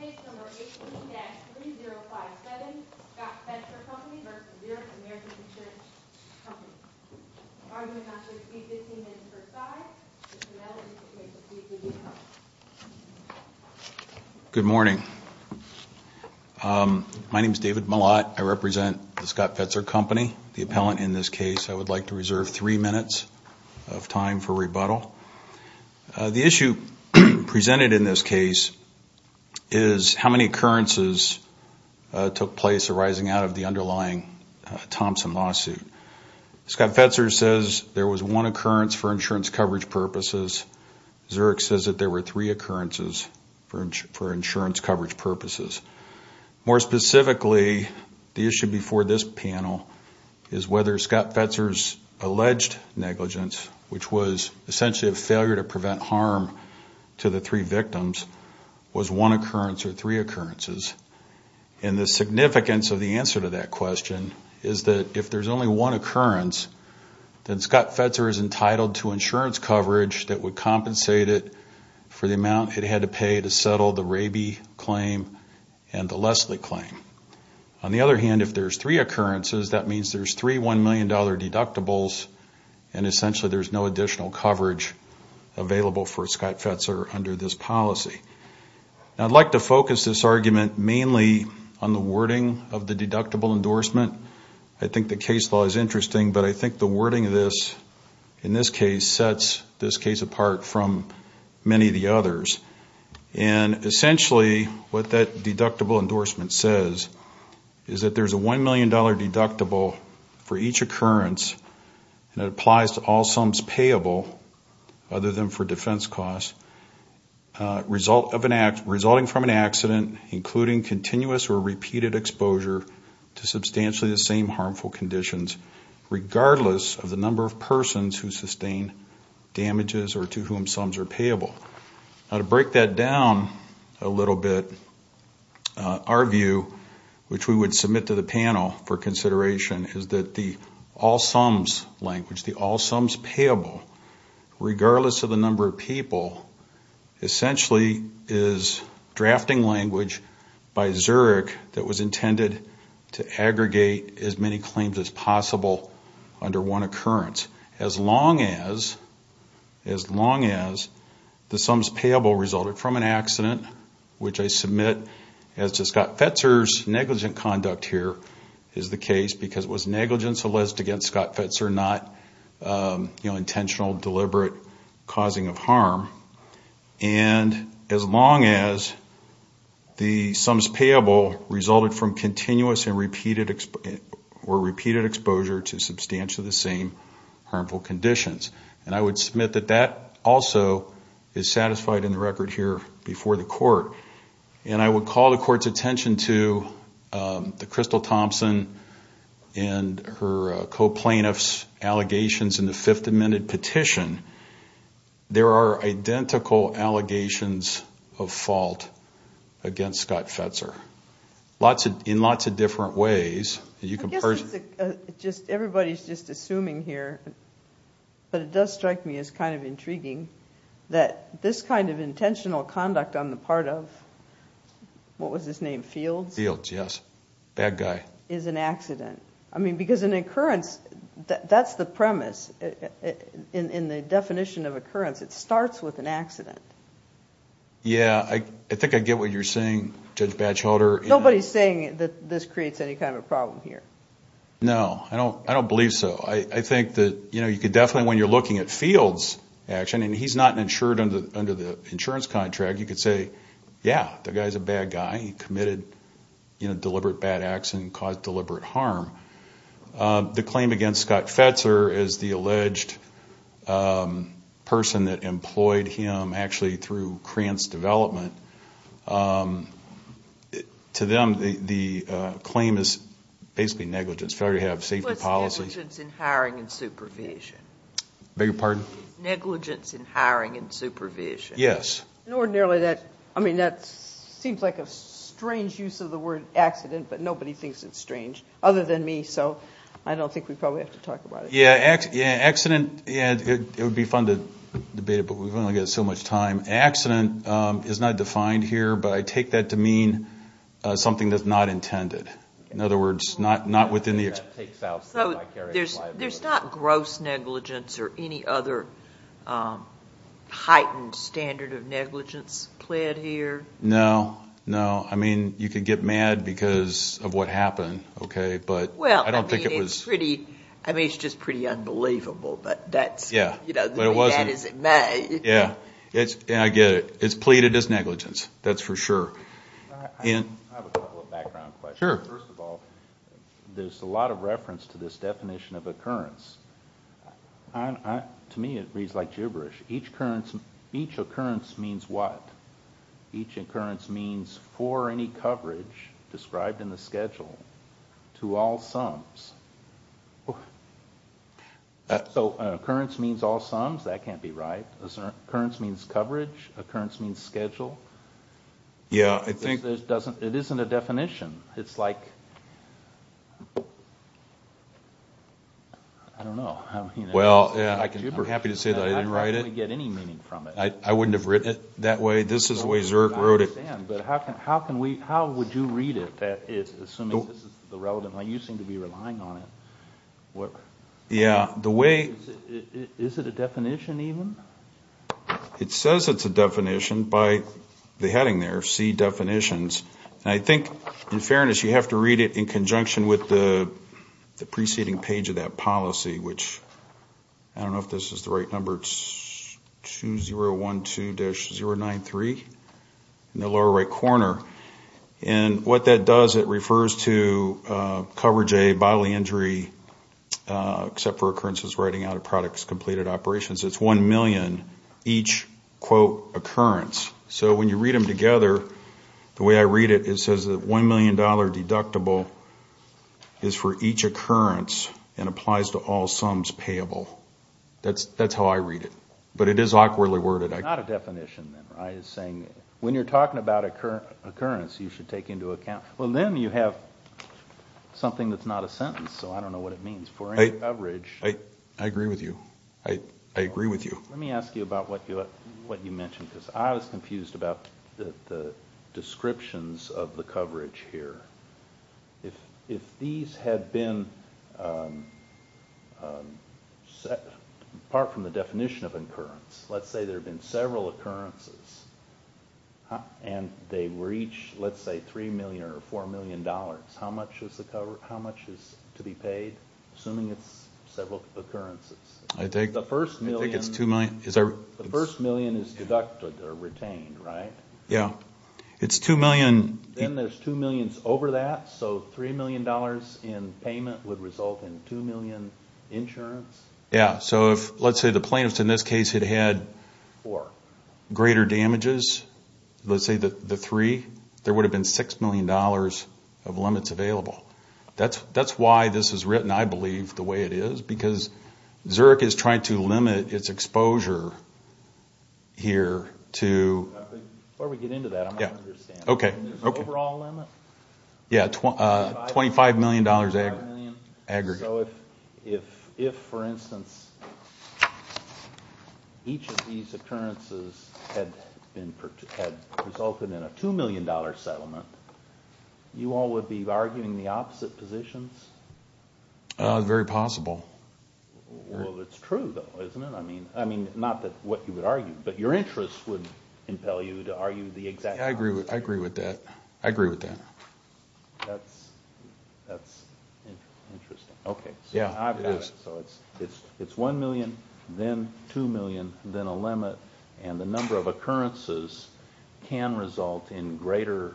Case No. 18-3057, Scott Fetzer Company v. Zurich American Insurance Company. Argument on the receipt 15 minutes per side. Mr. Melody will take the seat with you. Good morning. My name is David Mallott. I represent the Scott Fetzer Company, the appellant in this case. I would like to reserve three minutes of time for rebuttal. The issue presented in this case is how many occurrences took place arising out of the underlying Thompson lawsuit. Scott Fetzer says there was one occurrence for insurance coverage purposes. Zurich says that there were three occurrences for insurance coverage purposes. More specifically, the issue before this panel is whether Scott Fetzer's alleged negligence, which was essentially a failure to prevent harm to the three victims, was one occurrence or three occurrences. And the significance of the answer to that question is that if there's only one occurrence, then Scott Fetzer is entitled to insurance coverage that would compensate it for the amount it had to pay to settle the Raby claim and the Leslie claim. On the other hand, if there's three occurrences, that means there's three $1 million deductibles, and essentially there's no additional coverage available for Scott Fetzer under this policy. I'd like to focus this argument mainly on the wording of the deductible endorsement. I think the case law is interesting, but I think the wording of this, in this case, sets this case apart from many of the others. And essentially what that deductible endorsement says is that there's a $1 million deductible for each occurrence, and it applies to all sums payable other than for defense costs, resulting from an accident including continuous or repeated exposure to substantially the same harmful conditions, regardless of the number of persons who sustain damages or to whom sums are payable. Now, to break that down a little bit, our view, which we would submit to the panel for consideration, is that the all sums language, the all sums payable, regardless of the number of people, essentially is drafting language by Zurich that was intended to aggregate as many claims as possible under one occurrence, as long as the sums payable resulted from an accident, which I submit as to Scott Fetzer's negligent conduct here, because it was negligence alleged against Scott Fetzer, not intentional, deliberate causing of harm, and as long as the sums payable resulted from continuous or repeated exposure to substantially the same harmful conditions. And I would submit that that also is satisfied in the record here before the court. And I would call the court's attention to the Crystal Thompson and her co-plaintiffs' allegations in the Fifth Amendment petition. There are identical allegations of fault against Scott Fetzer in lots of different ways. Everybody's just assuming here, but it does strike me as kind of intriguing that this kind of intentional conduct on the part of, what was his name, Fields? Fields, yes. Bad guy. Is an accident. I mean, because an occurrence, that's the premise. In the definition of occurrence, it starts with an accident. Yeah, I think I get what you're saying, Judge Batchelder. Nobody's saying that this creates any kind of problem here. No, I don't believe so. I think that, you know, you could definitely, when you're looking at Fields' action, and he's not insured under the insurance contract, you could say, yeah, the guy's a bad guy. He committed, you know, deliberate bad acts and caused deliberate harm. The claim against Scott Fetzer is the alleged person that employed him actually through Krantz Development. To them, the claim is basically negligence, failure to have safety policies. What's negligence in hiring and supervision? Beg your pardon? Negligence in hiring and supervision. Yes. And ordinarily that, I mean, that seems like a strange use of the word accident, but nobody thinks it's strange other than me, so I don't think we probably have to talk about it. Yeah, accident, yeah, it would be fun to debate it, but we've only got so much time. Accident is not defined here, but I take that to mean something that's not intended. In other words, not within the experience. So there's not gross negligence or any other heightened standard of negligence pled here? No, no. I mean, you could get mad because of what happened, okay, but I don't think it was. Well, I mean, it's pretty, I mean, it's just pretty unbelievable, but that's, you know, the way that is it may. Yeah, and I get it. It's pleaded as negligence, that's for sure. I have a couple of background questions. Sure. First of all, there's a lot of reference to this definition of occurrence. To me it reads like gibberish. Each occurrence means what? Each occurrence means for any coverage described in the schedule to all sums. So occurrence means all sums? That can't be right. Occurrence means coverage? Occurrence means schedule? Yeah, I think. It isn't a definition. It's like, I don't know. Well, yeah, I'm happy to say that I didn't write it. How can we get any meaning from it? I wouldn't have written it that way. This is the way Zerk wrote it. I understand, but how can we, how would you read it that it's assuming this is the relevant, like you seem to be relying on it. Yeah, the way. Is it a definition even? It says it's a definition by the heading there, see definitions. And I think, in fairness, you have to read it in conjunction with the preceding page of that policy, which I don't know if this is the right number, 2012-093, in the lower right corner. And what that does, it refers to coverage A, bodily injury, except for occurrences writing out of products completed operations. It's $1 million each, quote, occurrence. So when you read them together, the way I read it, it says that $1 million deductible is for each occurrence and applies to all sums payable. That's how I read it. But it is awkwardly worded. It's not a definition then, right? It's saying when you're talking about occurrence, you should take into account. Well, then you have something that's not a sentence, so I don't know what it means. I agree with you. I agree with you. Let me ask you about what you mentioned, because I was confused about the descriptions of the coverage here. If these had been, apart from the definition of occurrence, let's say there had been several occurrences and they were each, let's say, $3 million or $4 million, how much is to be paid, assuming it's several occurrences? I think it's $2 million. The first million is deducted or retained, right? Yeah. It's $2 million. Then there's $2 million over that, so $3 million in payment would result in $2 million insurance. Yeah. So let's say the plaintiffs in this case had had greater damages, let's say the three, there would have been $6 million of limits available. That's why this is written, I believe, the way it is, because Zurich is trying to limit its exposure here to… Before we get into that, I'm not understanding. Okay. The overall limit? Yeah, $25 million aggregate. So if, for instance, each of these occurrences had resulted in a $2 million settlement, you all would be arguing the opposite positions? Very possible. Well, it's true, though, isn't it? I mean, not that what you would argue, but your interests would impel you to argue the exact opposite. I agree with that. I agree with that. That's interesting. Okay. Yeah, it is. So it's $1 million, then $2 million, then a limit, and the number of occurrences can result in greater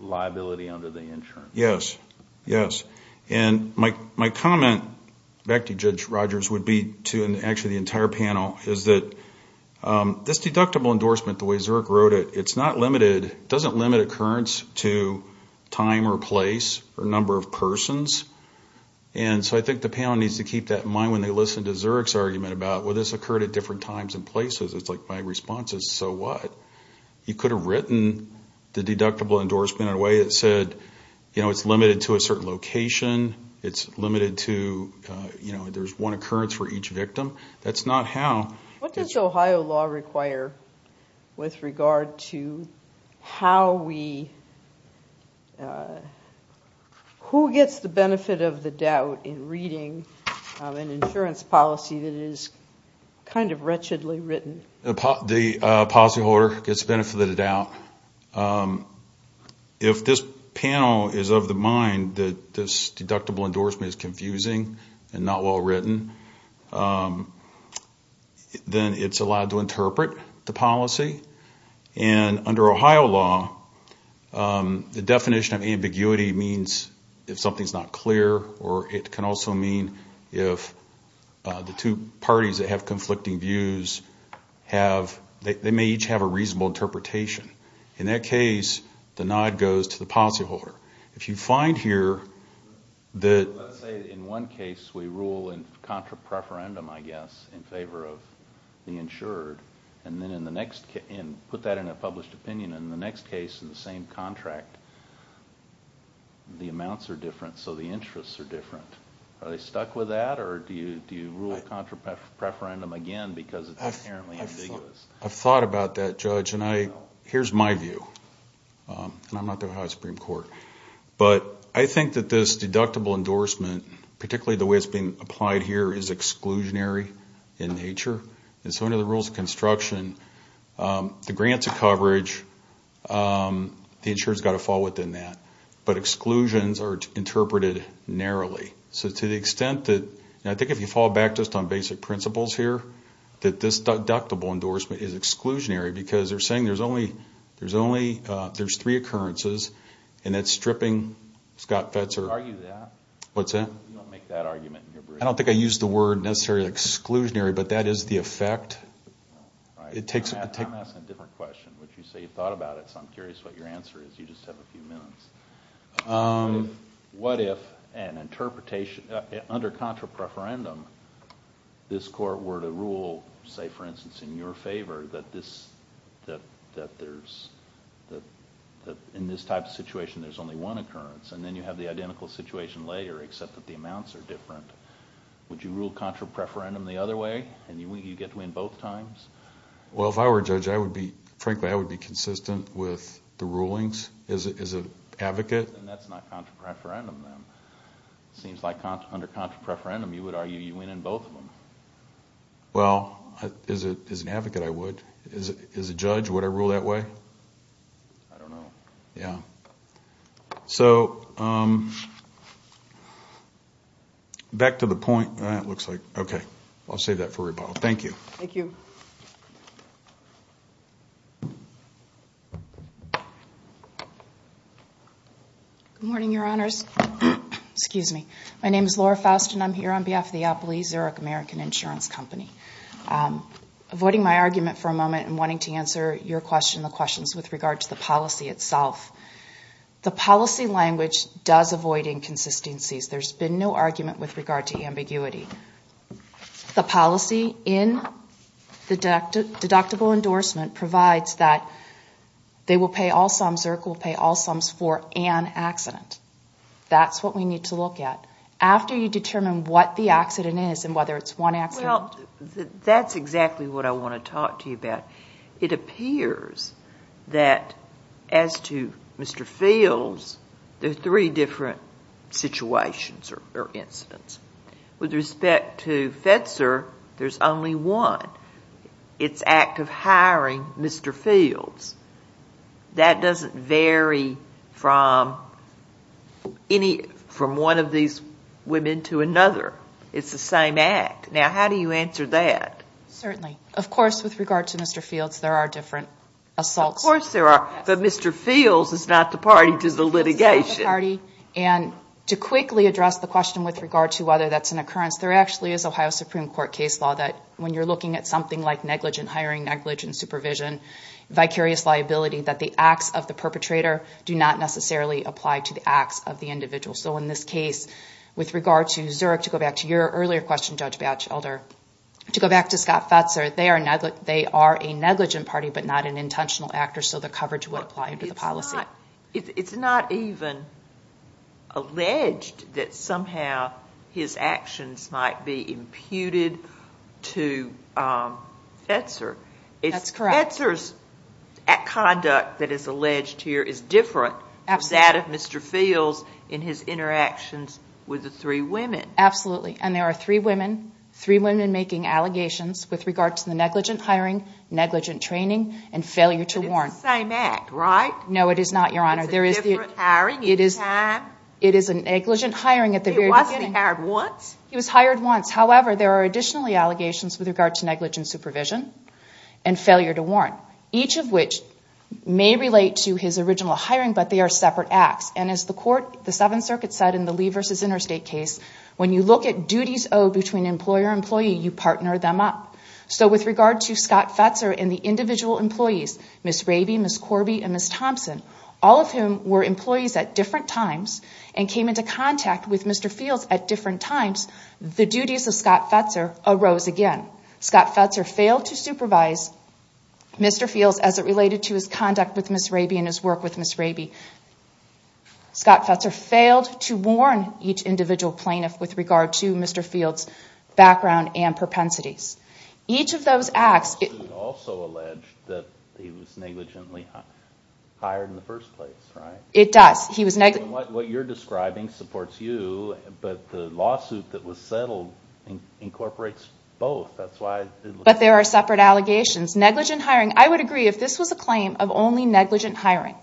liability under the insurance. Yes, yes. And my comment back to Judge Rogers would be to actually the entire panel, is that this deductible endorsement, the way Zurich wrote it, it doesn't limit occurrence to time or place or number of persons. And so I think the panel needs to keep that in mind when they listen to Zurich's argument about, well, this occurred at different times and places. It's like my response is, so what? You could have written the deductible endorsement in a way that said, you know, it's limited to a certain location. It's limited to, you know, there's one occurrence for each victim. That's not how. What does Ohio law require with regard to how we – who gets the benefit of the doubt in reading an insurance policy that is kind of wretchedly written? The policyholder gets the benefit of the doubt. If this panel is of the mind that this deductible endorsement is confusing and not well written, then it's allowed to interpret the policy. And under Ohio law, the definition of ambiguity means if something's not clear or it can also mean if the two parties that have conflicting views have – in that case, the nod goes to the policyholder. If you find here that – Let's say in one case we rule in contra-preferendum, I guess, in favor of the insured, and then in the next – and put that in a published opinion. In the next case, in the same contract, the amounts are different, so the interests are different. Are they stuck with that, or do you rule contra-preferendum again because it's inherently ambiguous? I've thought about that, Judge, and I – here's my view. And I'm not the Ohio Supreme Court. But I think that this deductible endorsement, particularly the way it's being applied here, is exclusionary in nature. And so under the rules of construction, the grants of coverage, the insurer's got to fall within that. But exclusions are interpreted narrowly. So to the extent that – and I think if you fall back just on basic principles here, that this deductible endorsement is exclusionary because they're saying there's only – there's three occurrences, and that's stripping Scott Fetzer – Would you argue that? What's that? You don't make that argument in your brief? I don't think I use the word necessarily exclusionary, but that is the effect. I'm asking a different question, which you say you've thought about it, so I'm curious what your answer is. You just have a few minutes. What if an interpretation – under contra preferendum, this court were to rule, say, for instance, in your favor that this – that there's – that in this type of situation, there's only one occurrence, and then you have the identical situation later, except that the amounts are different. Would you rule contra preferendum the other way, and you get to win both times? Well, if I were a judge, I would be – frankly, I would be consistent with the rulings as an advocate. That's not contra preferendum, then. It seems like under contra preferendum, you would argue you win in both of them. Well, as an advocate, I would. As a judge, would I rule that way? I don't know. Yeah. So back to the point. That looks like – okay. I'll save that for rebuttal. Thank you. Thank you. Good morning, Your Honors. Excuse me. My name is Laura Faust, and I'm here on behalf of the Appley-Zurich American Insurance Company. Avoiding my argument for a moment and wanting to answer your question and the questions with regard to the policy itself, the policy language does avoid inconsistencies. There's been no argument with regard to ambiguity. The policy in the deductible endorsement provides that they will pay all sums or it will pay all sums for an accident. That's what we need to look at. After you determine what the accident is and whether it's one accident. Well, that's exactly what I want to talk to you about. It appears that as to Mr. Fields, there are three different situations or incidents. With respect to FEDSER, there's only one. It's act of hiring Mr. Fields. That doesn't vary from any – from one of these women to another. It's the same act. Now, how do you answer that? Certainly. Of course, with regard to Mr. Fields, there are different assaults. Of course there are. But Mr. Fields is not the party to the litigation. To quickly address the question with regard to whether that's an occurrence, there actually is Ohio Supreme Court case law that when you're looking at something like negligent hiring, negligent supervision, vicarious liability, that the acts of the perpetrator do not necessarily apply to the acts of the individual. In this case, with regard to Zurich, to go back to your earlier question, Judge Batchelder, to go back to Scott FEDSER, they are a negligent party but not an intentional actor, so the coverage would apply to the policy. It's not even alleged that somehow his actions might be imputed to FEDSER. That's correct. FEDSER's conduct that is alleged here is different from that of Mr. Fields in his interactions with the three women. Absolutely. And there are three women, three women making allegations with regard to the negligent hiring, negligent training, and failure to warrant. But it's the same act, right? No, it is not, Your Honor. It's a different hiring each time? It is a negligent hiring. He wasn't hired once? He was hired once. However, there are additionally allegations with regard to negligent supervision and failure to warrant, each of which may relate to his original hiring, but they are separate acts. And as the Seventh Circuit said in the Lee v. Interstate case, when you look at duties owed between employer and employee, you partner them up. So with regard to Scott FEDSER and the individual employees, Ms. Raby, Ms. Corby, and Ms. Thompson, all of whom were employees at different times and came into contact with Mr. Fields at different times, the duties of Scott FEDSER arose again. Scott FEDSER failed to supervise Mr. Fields as it related to his conduct with Ms. Raby and his work with Ms. Raby. Scott FEDSER failed to warn each individual plaintiff with regard to Mr. Fields' background and propensities. Each of those acts... The lawsuit also alleged that he was negligently hired in the first place, right? It does. What you're describing supports you, but the lawsuit that was settled incorporates both. But there are separate allegations. I would agree if this was a claim of only negligent hiring.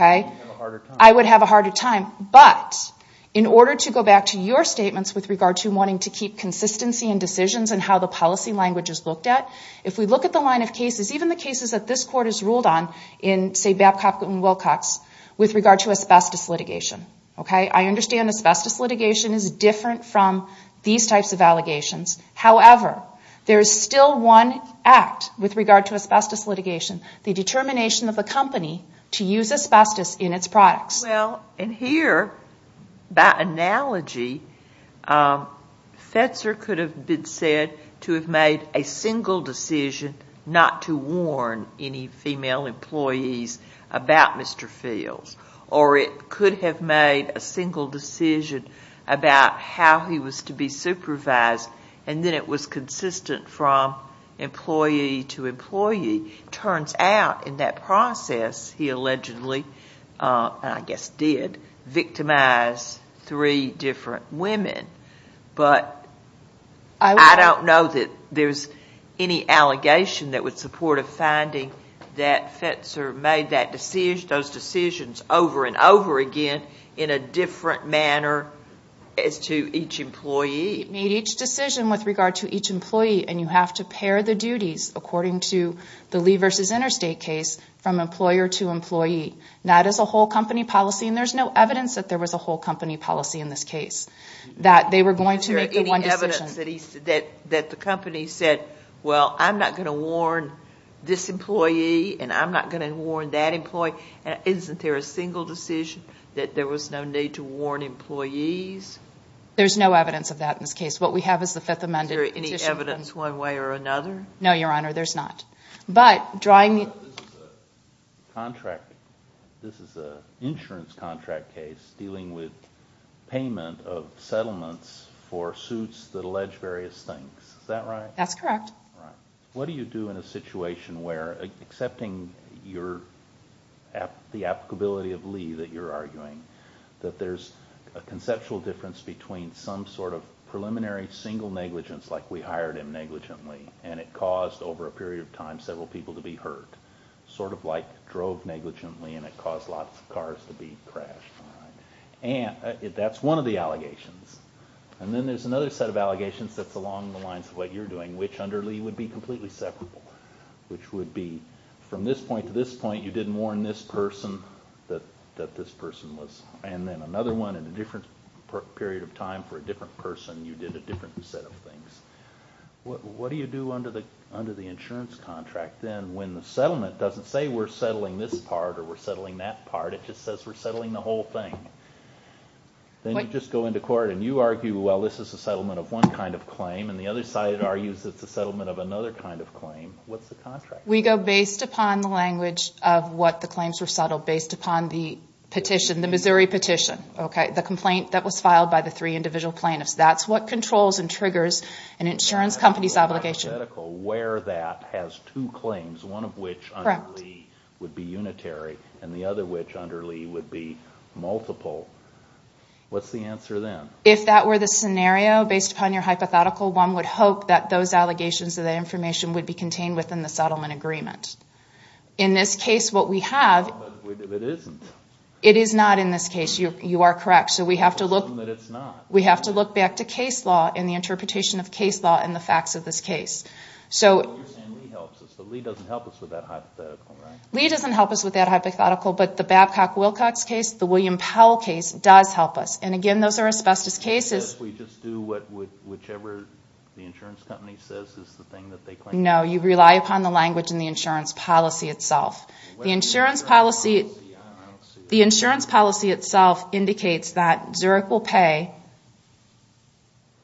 I would have a harder time. But in order to go back to your statements with regard to wanting to keep consistency in decisions and how the policy language is looked at, if we look at the line of cases, even the cases that this Court has ruled on in, say, Babcock and Wilcox, with regard to asbestos litigation. I understand asbestos litigation is different from these types of allegations. However, there is still one act with regard to asbestos litigation, the determination of a company to use asbestos in its products. Well, and here, by analogy, FEDSER could have been said to have made a single decision not to warn any female employees about Mr. Fields. Or it could have made a single decision about how he was to be supervised, and then it was consistent from employee to employee. It turns out in that process he allegedly, and I guess did, victimized three different women. But I don't know that there's any allegation that would support a finding that FEDSER made that decision. He made decisions over and over again in a different manner as to each employee. He made each decision with regard to each employee, and you have to pair the duties according to the Lee v. Interstate case from employer to employee. That is a whole company policy, and there's no evidence that there was a whole company policy in this case, that they were going to make the one decision. Is there any evidence that the company said, well, I'm not going to warn this employee and I'm not going to warn that employee? Isn't there a single decision that there was no need to warn employees? There's no evidence of that in this case. What we have is the Fifth Amendment. Is there any evidence one way or another? No, Your Honor. There's not. But drawing the- This is a contract. This is an insurance contract case dealing with payment of settlements for suits that allege various things. Is that right? That's correct. All right. What do you do in a situation where, accepting the applicability of Lee that you're arguing, that there's a conceptual difference between some sort of preliminary single negligence, like we hired him negligently and it caused, over a period of time, several people to be hurt, sort of like drove negligently and it caused lots of cars to be crashed? That's one of the allegations. And then there's another set of allegations that's along the lines of what you're doing, which under Lee would be completely separable, which would be from this point to this point, you didn't warn this person that this person was- and then another one in a different period of time for a different person, you did a different set of things. What do you do under the insurance contract then when the settlement doesn't say we're settling this part or we're settling that part, it just says we're settling the whole thing? Then you just go into court and you argue, well, this is a settlement of one kind of claim and the other side argues it's a settlement of another kind of claim. What's the contract? We go based upon the language of what the claims were settled, based upon the petition, the Missouri petition, the complaint that was filed by the three individual plaintiffs. That's what controls and triggers an insurance company's obligation. Where that has two claims, one of which under Lee would be unitary and the other which under Lee would be multiple, what's the answer then? If that were the scenario based upon your hypothetical, one would hope that those allegations of the information would be contained within the settlement agreement. In this case, what we have- It isn't. It is not in this case. You are correct. So we have to look- Assume that it's not. We have to look back to case law and the interpretation of case law and the facts of this case. You're saying Lee helps us, but Lee doesn't help us with that hypothetical, right? Lee doesn't help us with that hypothetical, but the Babcock-Wilcox case, the William Powell case does help us. And again, those are asbestos cases. We just do whatever the insurance company says is the thing that they claim. No, you rely upon the language in the insurance policy itself. The insurance policy itself indicates that Zurich will pay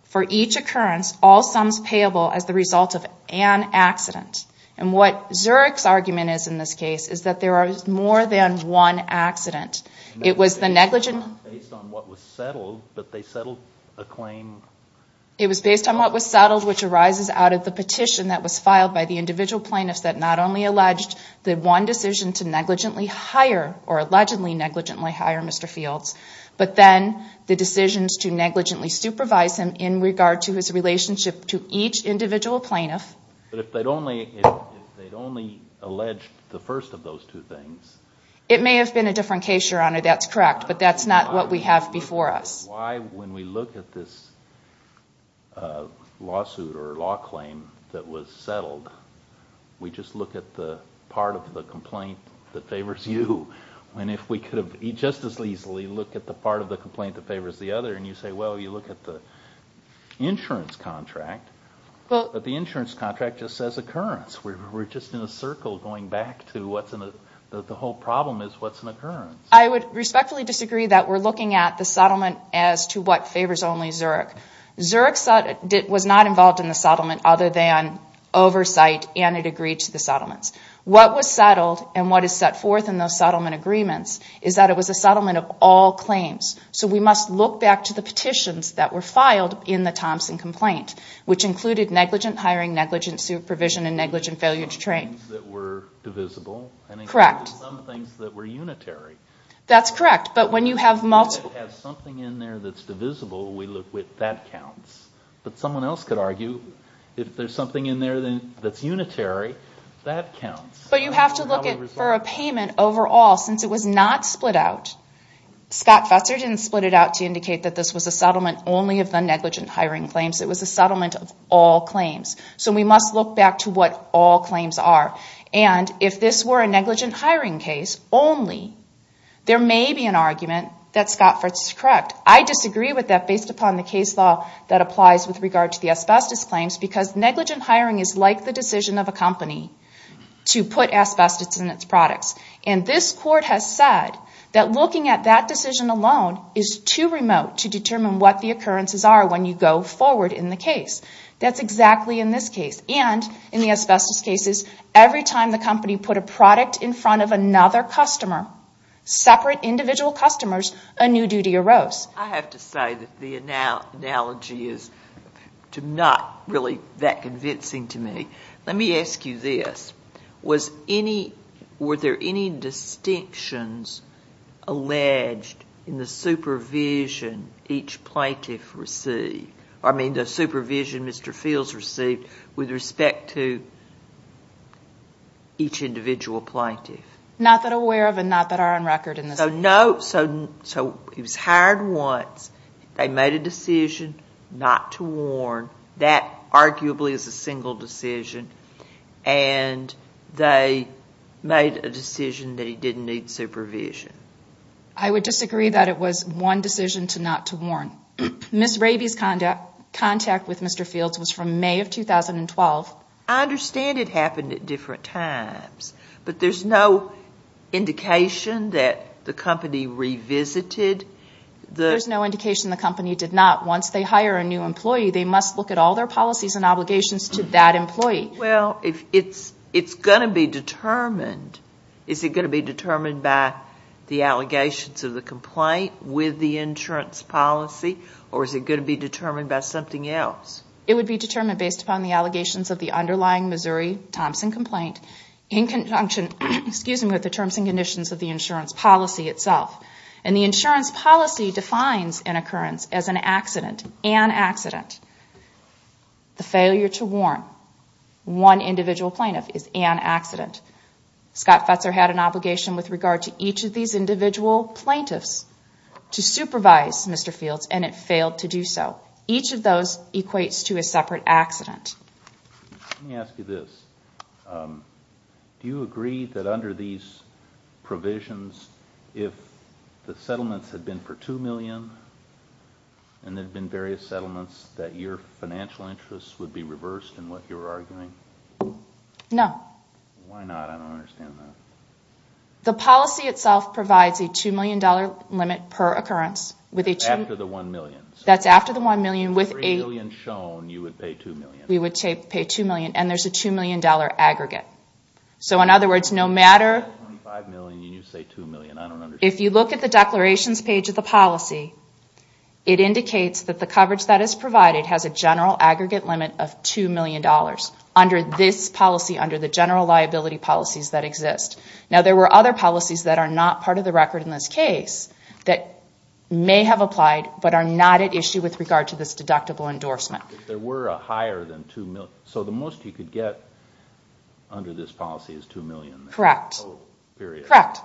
for each occurrence all sums payable as the result of an accident. And what Zurich's argument is in this case is that there are more than one accident. It was the negligent- Based on what was settled, but they settled a claim- It was based on what was settled, which arises out of the petition that was filed by the individual plaintiffs that not only alleged the one decision to negligently hire, or allegedly negligently hire Mr. Fields, but then the decisions to negligently supervise him in regard to his relationship to each individual plaintiff. But if they'd only alleged the first of those two things- It may have been a different case, Your Honor, that's correct, but that's not what we have before us. Why, when we look at this lawsuit or law claim that was settled, we just look at the part of the complaint that favors you, when if we could have just as easily looked at the part of the complaint that favors the other, and you say, well, you look at the insurance contract. But the insurance contract just says occurrence. We're just in a circle going back to what's in the- The whole problem is what's an occurrence. I would respectfully disagree that we're looking at the settlement as to what favors only Zurich. Zurich was not involved in the settlement other than oversight, and it agreed to the settlements. What was settled and what is set forth in those settlement agreements is that it was a settlement of all claims. So we must look back to the petitions that were filed in the Thompson complaint, which included negligent hiring, negligent supervision, and negligent failure to train. That were divisible and included some things that were unitary. That's correct, but when you have multiple- If it has something in there that's divisible, we look with that counts. But someone else could argue if there's something in there that's unitary, that counts. But you have to look for a payment overall, since it was not split out. Scott Fetzer didn't split it out to indicate that this was a settlement only of the negligent hiring claims. It was a settlement of all claims. So we must look back to what all claims are. And if this were a negligent hiring case only, there may be an argument that Scott Fetzer is correct. I disagree with that based upon the case law that applies with regard to the asbestos claims because negligent hiring is like the decision of a company to put asbestos in its products. And this court has said that looking at that decision alone is too remote to determine what the occurrences are when you go forward in the case. That's exactly in this case. And in the asbestos cases, every time the company put a product in front of another customer, separate individual customers, a new duty arose. I have to say that the analogy is not really that convincing to me. Let me ask you this. Were there any distinctions alleged in the supervision each plaintiff received? I mean the supervision Mr. Fields received with respect to each individual plaintiff? Not that aware of and not that are on record in this case. So he was hired once. They made a decision not to warn. That arguably is a single decision. And they made a decision that he didn't need supervision. I would disagree that it was one decision not to warn. Ms. Raby's contact with Mr. Fields was from May of 2012. I understand it happened at different times, but there's no indication that the company revisited. There's no indication the company did not. Once they hire a new employee, they must look at all their policies and obligations to that employee. Well, it's going to be determined. Is it going to be determined by the allegations of the complaint with the insurance policy, or is it going to be determined by something else? It would be determined based upon the allegations of the underlying Missouri Thompson complaint in conjunction with the terms and conditions of the insurance policy itself. And the insurance policy defines an occurrence as an accident, an accident. The failure to warn one individual plaintiff is an accident. Scott Fetzer had an obligation with regard to each of these individual plaintiffs to supervise Mr. Fields, and it failed to do so. Each of those equates to a separate accident. Let me ask you this. Do you agree that under these provisions, if the settlements had been for $2 million and there had been various settlements, that your financial interests would be reversed in what you're arguing? No. Why not? I don't understand that. The policy itself provides a $2 million limit per occurrence. That's after the $1 million. That's after the $1 million. With $3 million shown, you would pay $2 million. We would pay $2 million, and there's a $2 million aggregate. So in other words, no matter... $25 million, and you say $2 million. I don't understand. If you look at the declarations page of the policy, it indicates that the coverage that is provided has a general aggregate limit of $2 million under this policy, under the general liability policies that exist. Now, there were other policies that are not part of the record in this case that may have applied but are not at issue with regard to this deductible endorsement. There were a higher than $2 million. So the most you could get under this policy is $2 million. Correct. Period. Correct.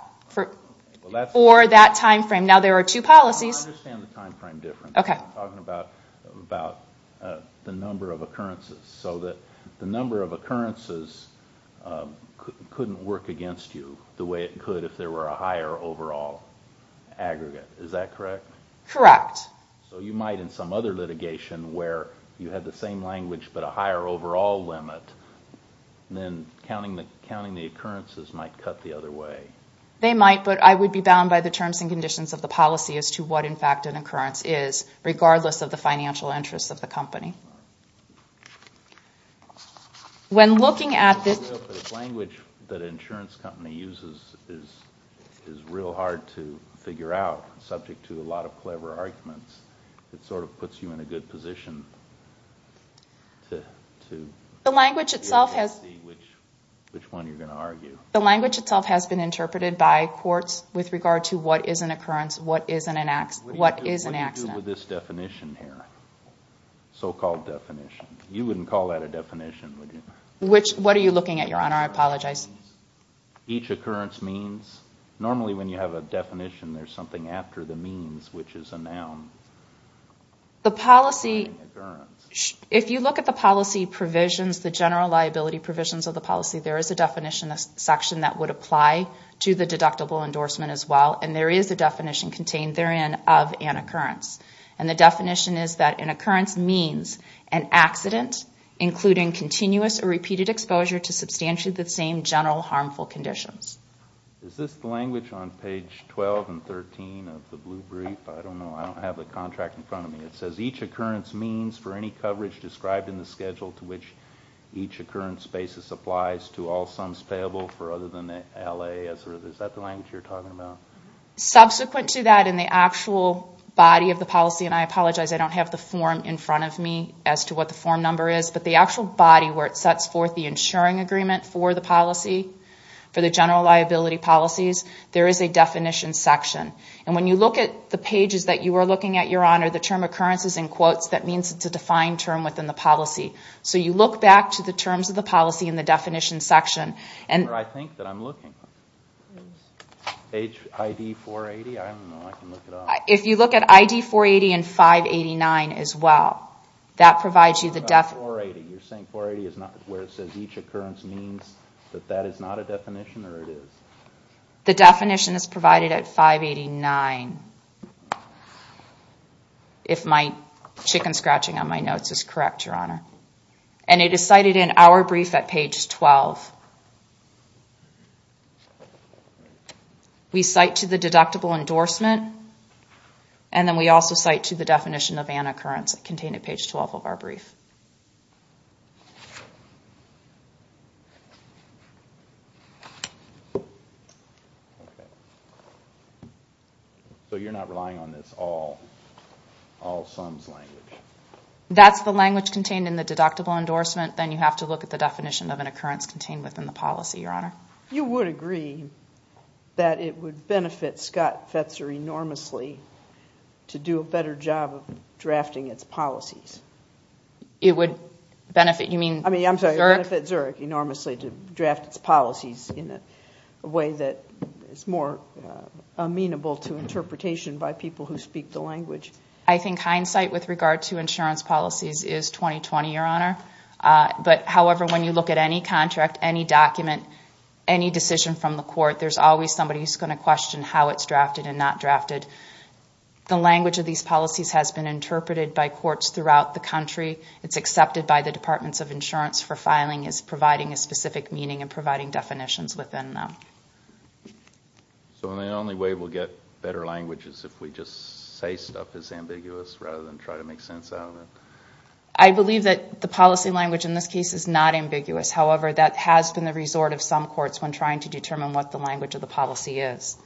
For that time frame. Now, there are two policies. I understand the time frame difference. I'm talking about the number of occurrences. So the number of occurrences couldn't work against you the way it could if there were a higher overall aggregate. Is that correct? Correct. So you might, in some other litigation, where you had the same language but a higher overall limit, then counting the occurrences might cut the other way. They might, but I would be bound by the terms and conditions of the policy as to what, in fact, an occurrence is, regardless of the financial interests of the company. When looking at this... The language that an insurance company uses is real hard to figure out, subject to a lot of clever arguments. It sort of puts you in a good position to see which one you're going to argue. The language itself has been interpreted by courts with regard to what is an occurrence, what is an accident. What do you do with this definition here, so-called definition? You wouldn't call that a definition, would you? What are you looking at, Your Honor? I apologize. Each occurrence means? Normally when you have a definition, there's something after the means, which is a noun. The policy... If you look at the policy provisions, the general liability provisions of the policy, there is a definition section that would apply to the deductible endorsement as well, and there is a definition contained therein of an occurrence. And the definition is that an occurrence means an accident, including continuous or repeated exposure to substantially the same general harmful conditions. Is this the language on page 12 and 13 of the blue brief? I don't know. I don't have the contract in front of me. It says each occurrence means for any coverage described in the schedule to which each occurrence basis applies to all sums payable for other than the LA. Is that the language you're talking about? Subsequent to that, in the actual body of the policy, and I apologize, I don't have the form in front of me as to what the form number is, but the actual body where it sets forth the insuring agreement for the policy, for the general liability policies, there is a definition section. And when you look at the pages that you are looking at, Your Honor, the term occurrences in quotes, that means it's a defined term within the policy. So you look back to the terms of the policy in the definition section. Where I think that I'm looking? If you look at ID 480 and 589 as well, that provides you the definition. You're saying 480 is not where it says each occurrence means that that is not a definition or it is? The definition is provided at 589, if my chicken scratching on my notes is correct, Your Honor. And it is cited in our brief at page 12. We cite to the deductible endorsement, and then we also cite to the definition of an occurrence contained at page 12 of our brief. So you're not relying on this all, all sums language? That's the language contained in the deductible endorsement. Then you have to look at the definition of an occurrence contained within the policy, Your Honor. You would agree that it would benefit Scott Fetzer enormously to do a better job of drafting its policies? It would benefit, you mean Zurich? I'm sorry, it would benefit Zurich enormously to draft its policies in a way that is more amenable to interpretation by people who speak the language. I think hindsight with regard to insurance policies is 20-20, Your Honor. But however, when you look at any contract, any document, any decision from the court, there's always somebody who's going to question how it's drafted and not drafted. The language of these policies has been interpreted by courts throughout the country. It's accepted by the Departments of Insurance for filing as providing a specific meaning and providing definitions within them. So the only way we'll get better language is if we just say stuff that's ambiguous rather than try to make sense out of it? I believe that the policy language in this case is not ambiguous. However, that has been the resort of some courts when trying to determine what the language of the policy is.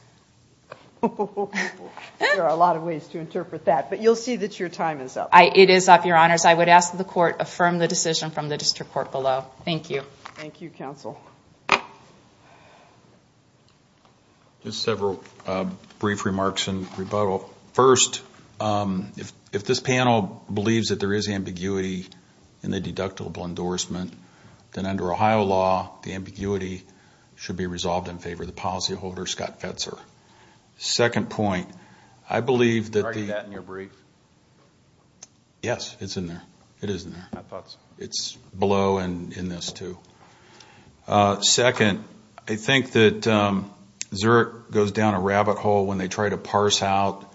There are a lot of ways to interpret that, but you'll see that your time is up. It is up, Your Honors. I would ask that the court affirm the decision from the district court below. Thank you. Thank you, counsel. Just several brief remarks in rebuttal. First, if this panel believes that there is ambiguity in the deductible endorsement, then under Ohio law, the ambiguity should be resolved in favor of the policyholder, Scott Fetzer. Second point, I believe that the – Are you writing that in your brief? Yes, it's in there. It is in there. My thoughts. It's below and in this too. Second, I think that Zurich goes down a rabbit hole when they try to parse out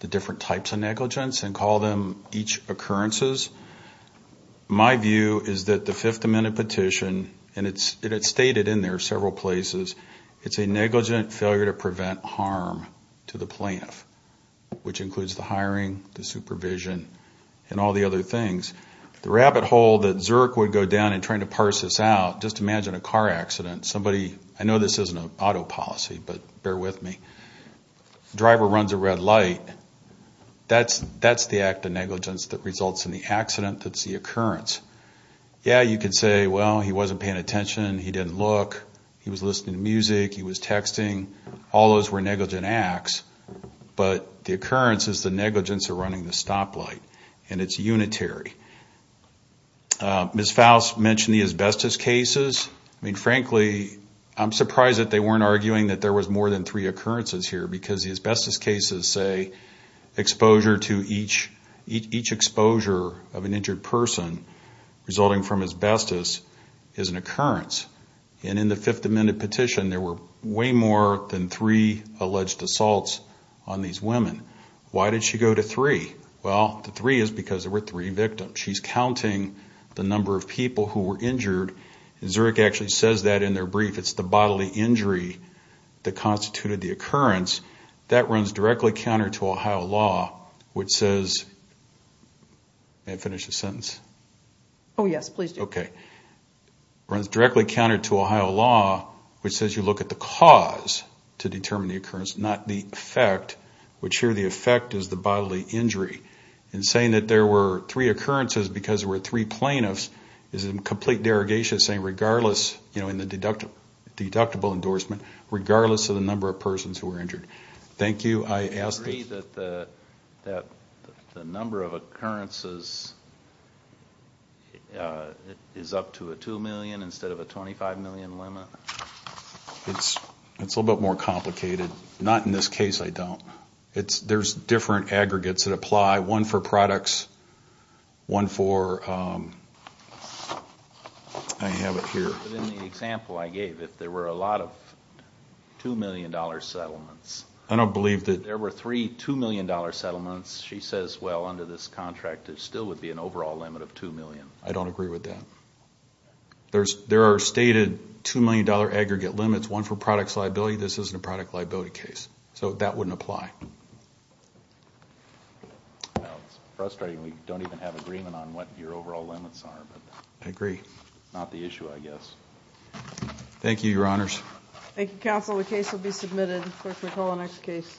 the different types of negligence and call them each occurrences. My view is that the Fifth Amendment petition, and it's stated in there several places, it's a negligent failure to prevent harm to the plaintiff, which includes the hiring, the supervision, and all the other things. The rabbit hole that Zurich would go down in trying to parse this out, just imagine a car accident. I know this isn't an auto policy, but bear with me. The driver runs a red light. That's the act of negligence that results in the accident. That's the occurrence. Yeah, you could say, well, he wasn't paying attention. He didn't look. He was listening to music. He was texting. All those were negligent acts, but the occurrence is the negligence of running the stoplight, and it's unitary. Ms. Faust mentioned the asbestos cases. I mean, frankly, I'm surprised that they weren't arguing that there was more than three occurrences here because the asbestos cases say exposure to each exposure of an injured person resulting from asbestos is an occurrence. And in the Fifth Amendment petition, there were way more than three alleged assaults on these women. Why did she go to three? Well, the three is because there were three victims. She's counting the number of people who were injured, and Zurich actually says that in their brief. It's the bodily injury that constituted the occurrence. That runs directly counter to Ohio law, which says you look at the cause to determine the occurrence, not the effect, which here the effect is the bodily injury. And saying that there were three occurrences because there were three plaintiffs is in complete derogation of saying regardless, you know, in the deductible endorsement, regardless of the number of persons who were injured. Thank you. I ask that. Do you agree that the number of occurrences is up to a 2 million instead of a 25 million limit? It's a little bit more complicated. Not in this case, I don't. There's different aggregates that apply, one for products, one for, I have it here. In the example I gave, if there were a lot of $2 million settlements. I don't believe that. There were three $2 million settlements. She says, well, under this contract, there still would be an overall limit of 2 million. I don't agree with that. There are stated $2 million aggregate limits, one for products liability. This isn't a product liability case. So that wouldn't apply. It's frustrating. We don't even have agreement on what your overall limits are. I agree. Not the issue, I guess. Thank you, Your Honors. Thank you, Counsel. The case will be submitted. Clerk, we'll call the next case.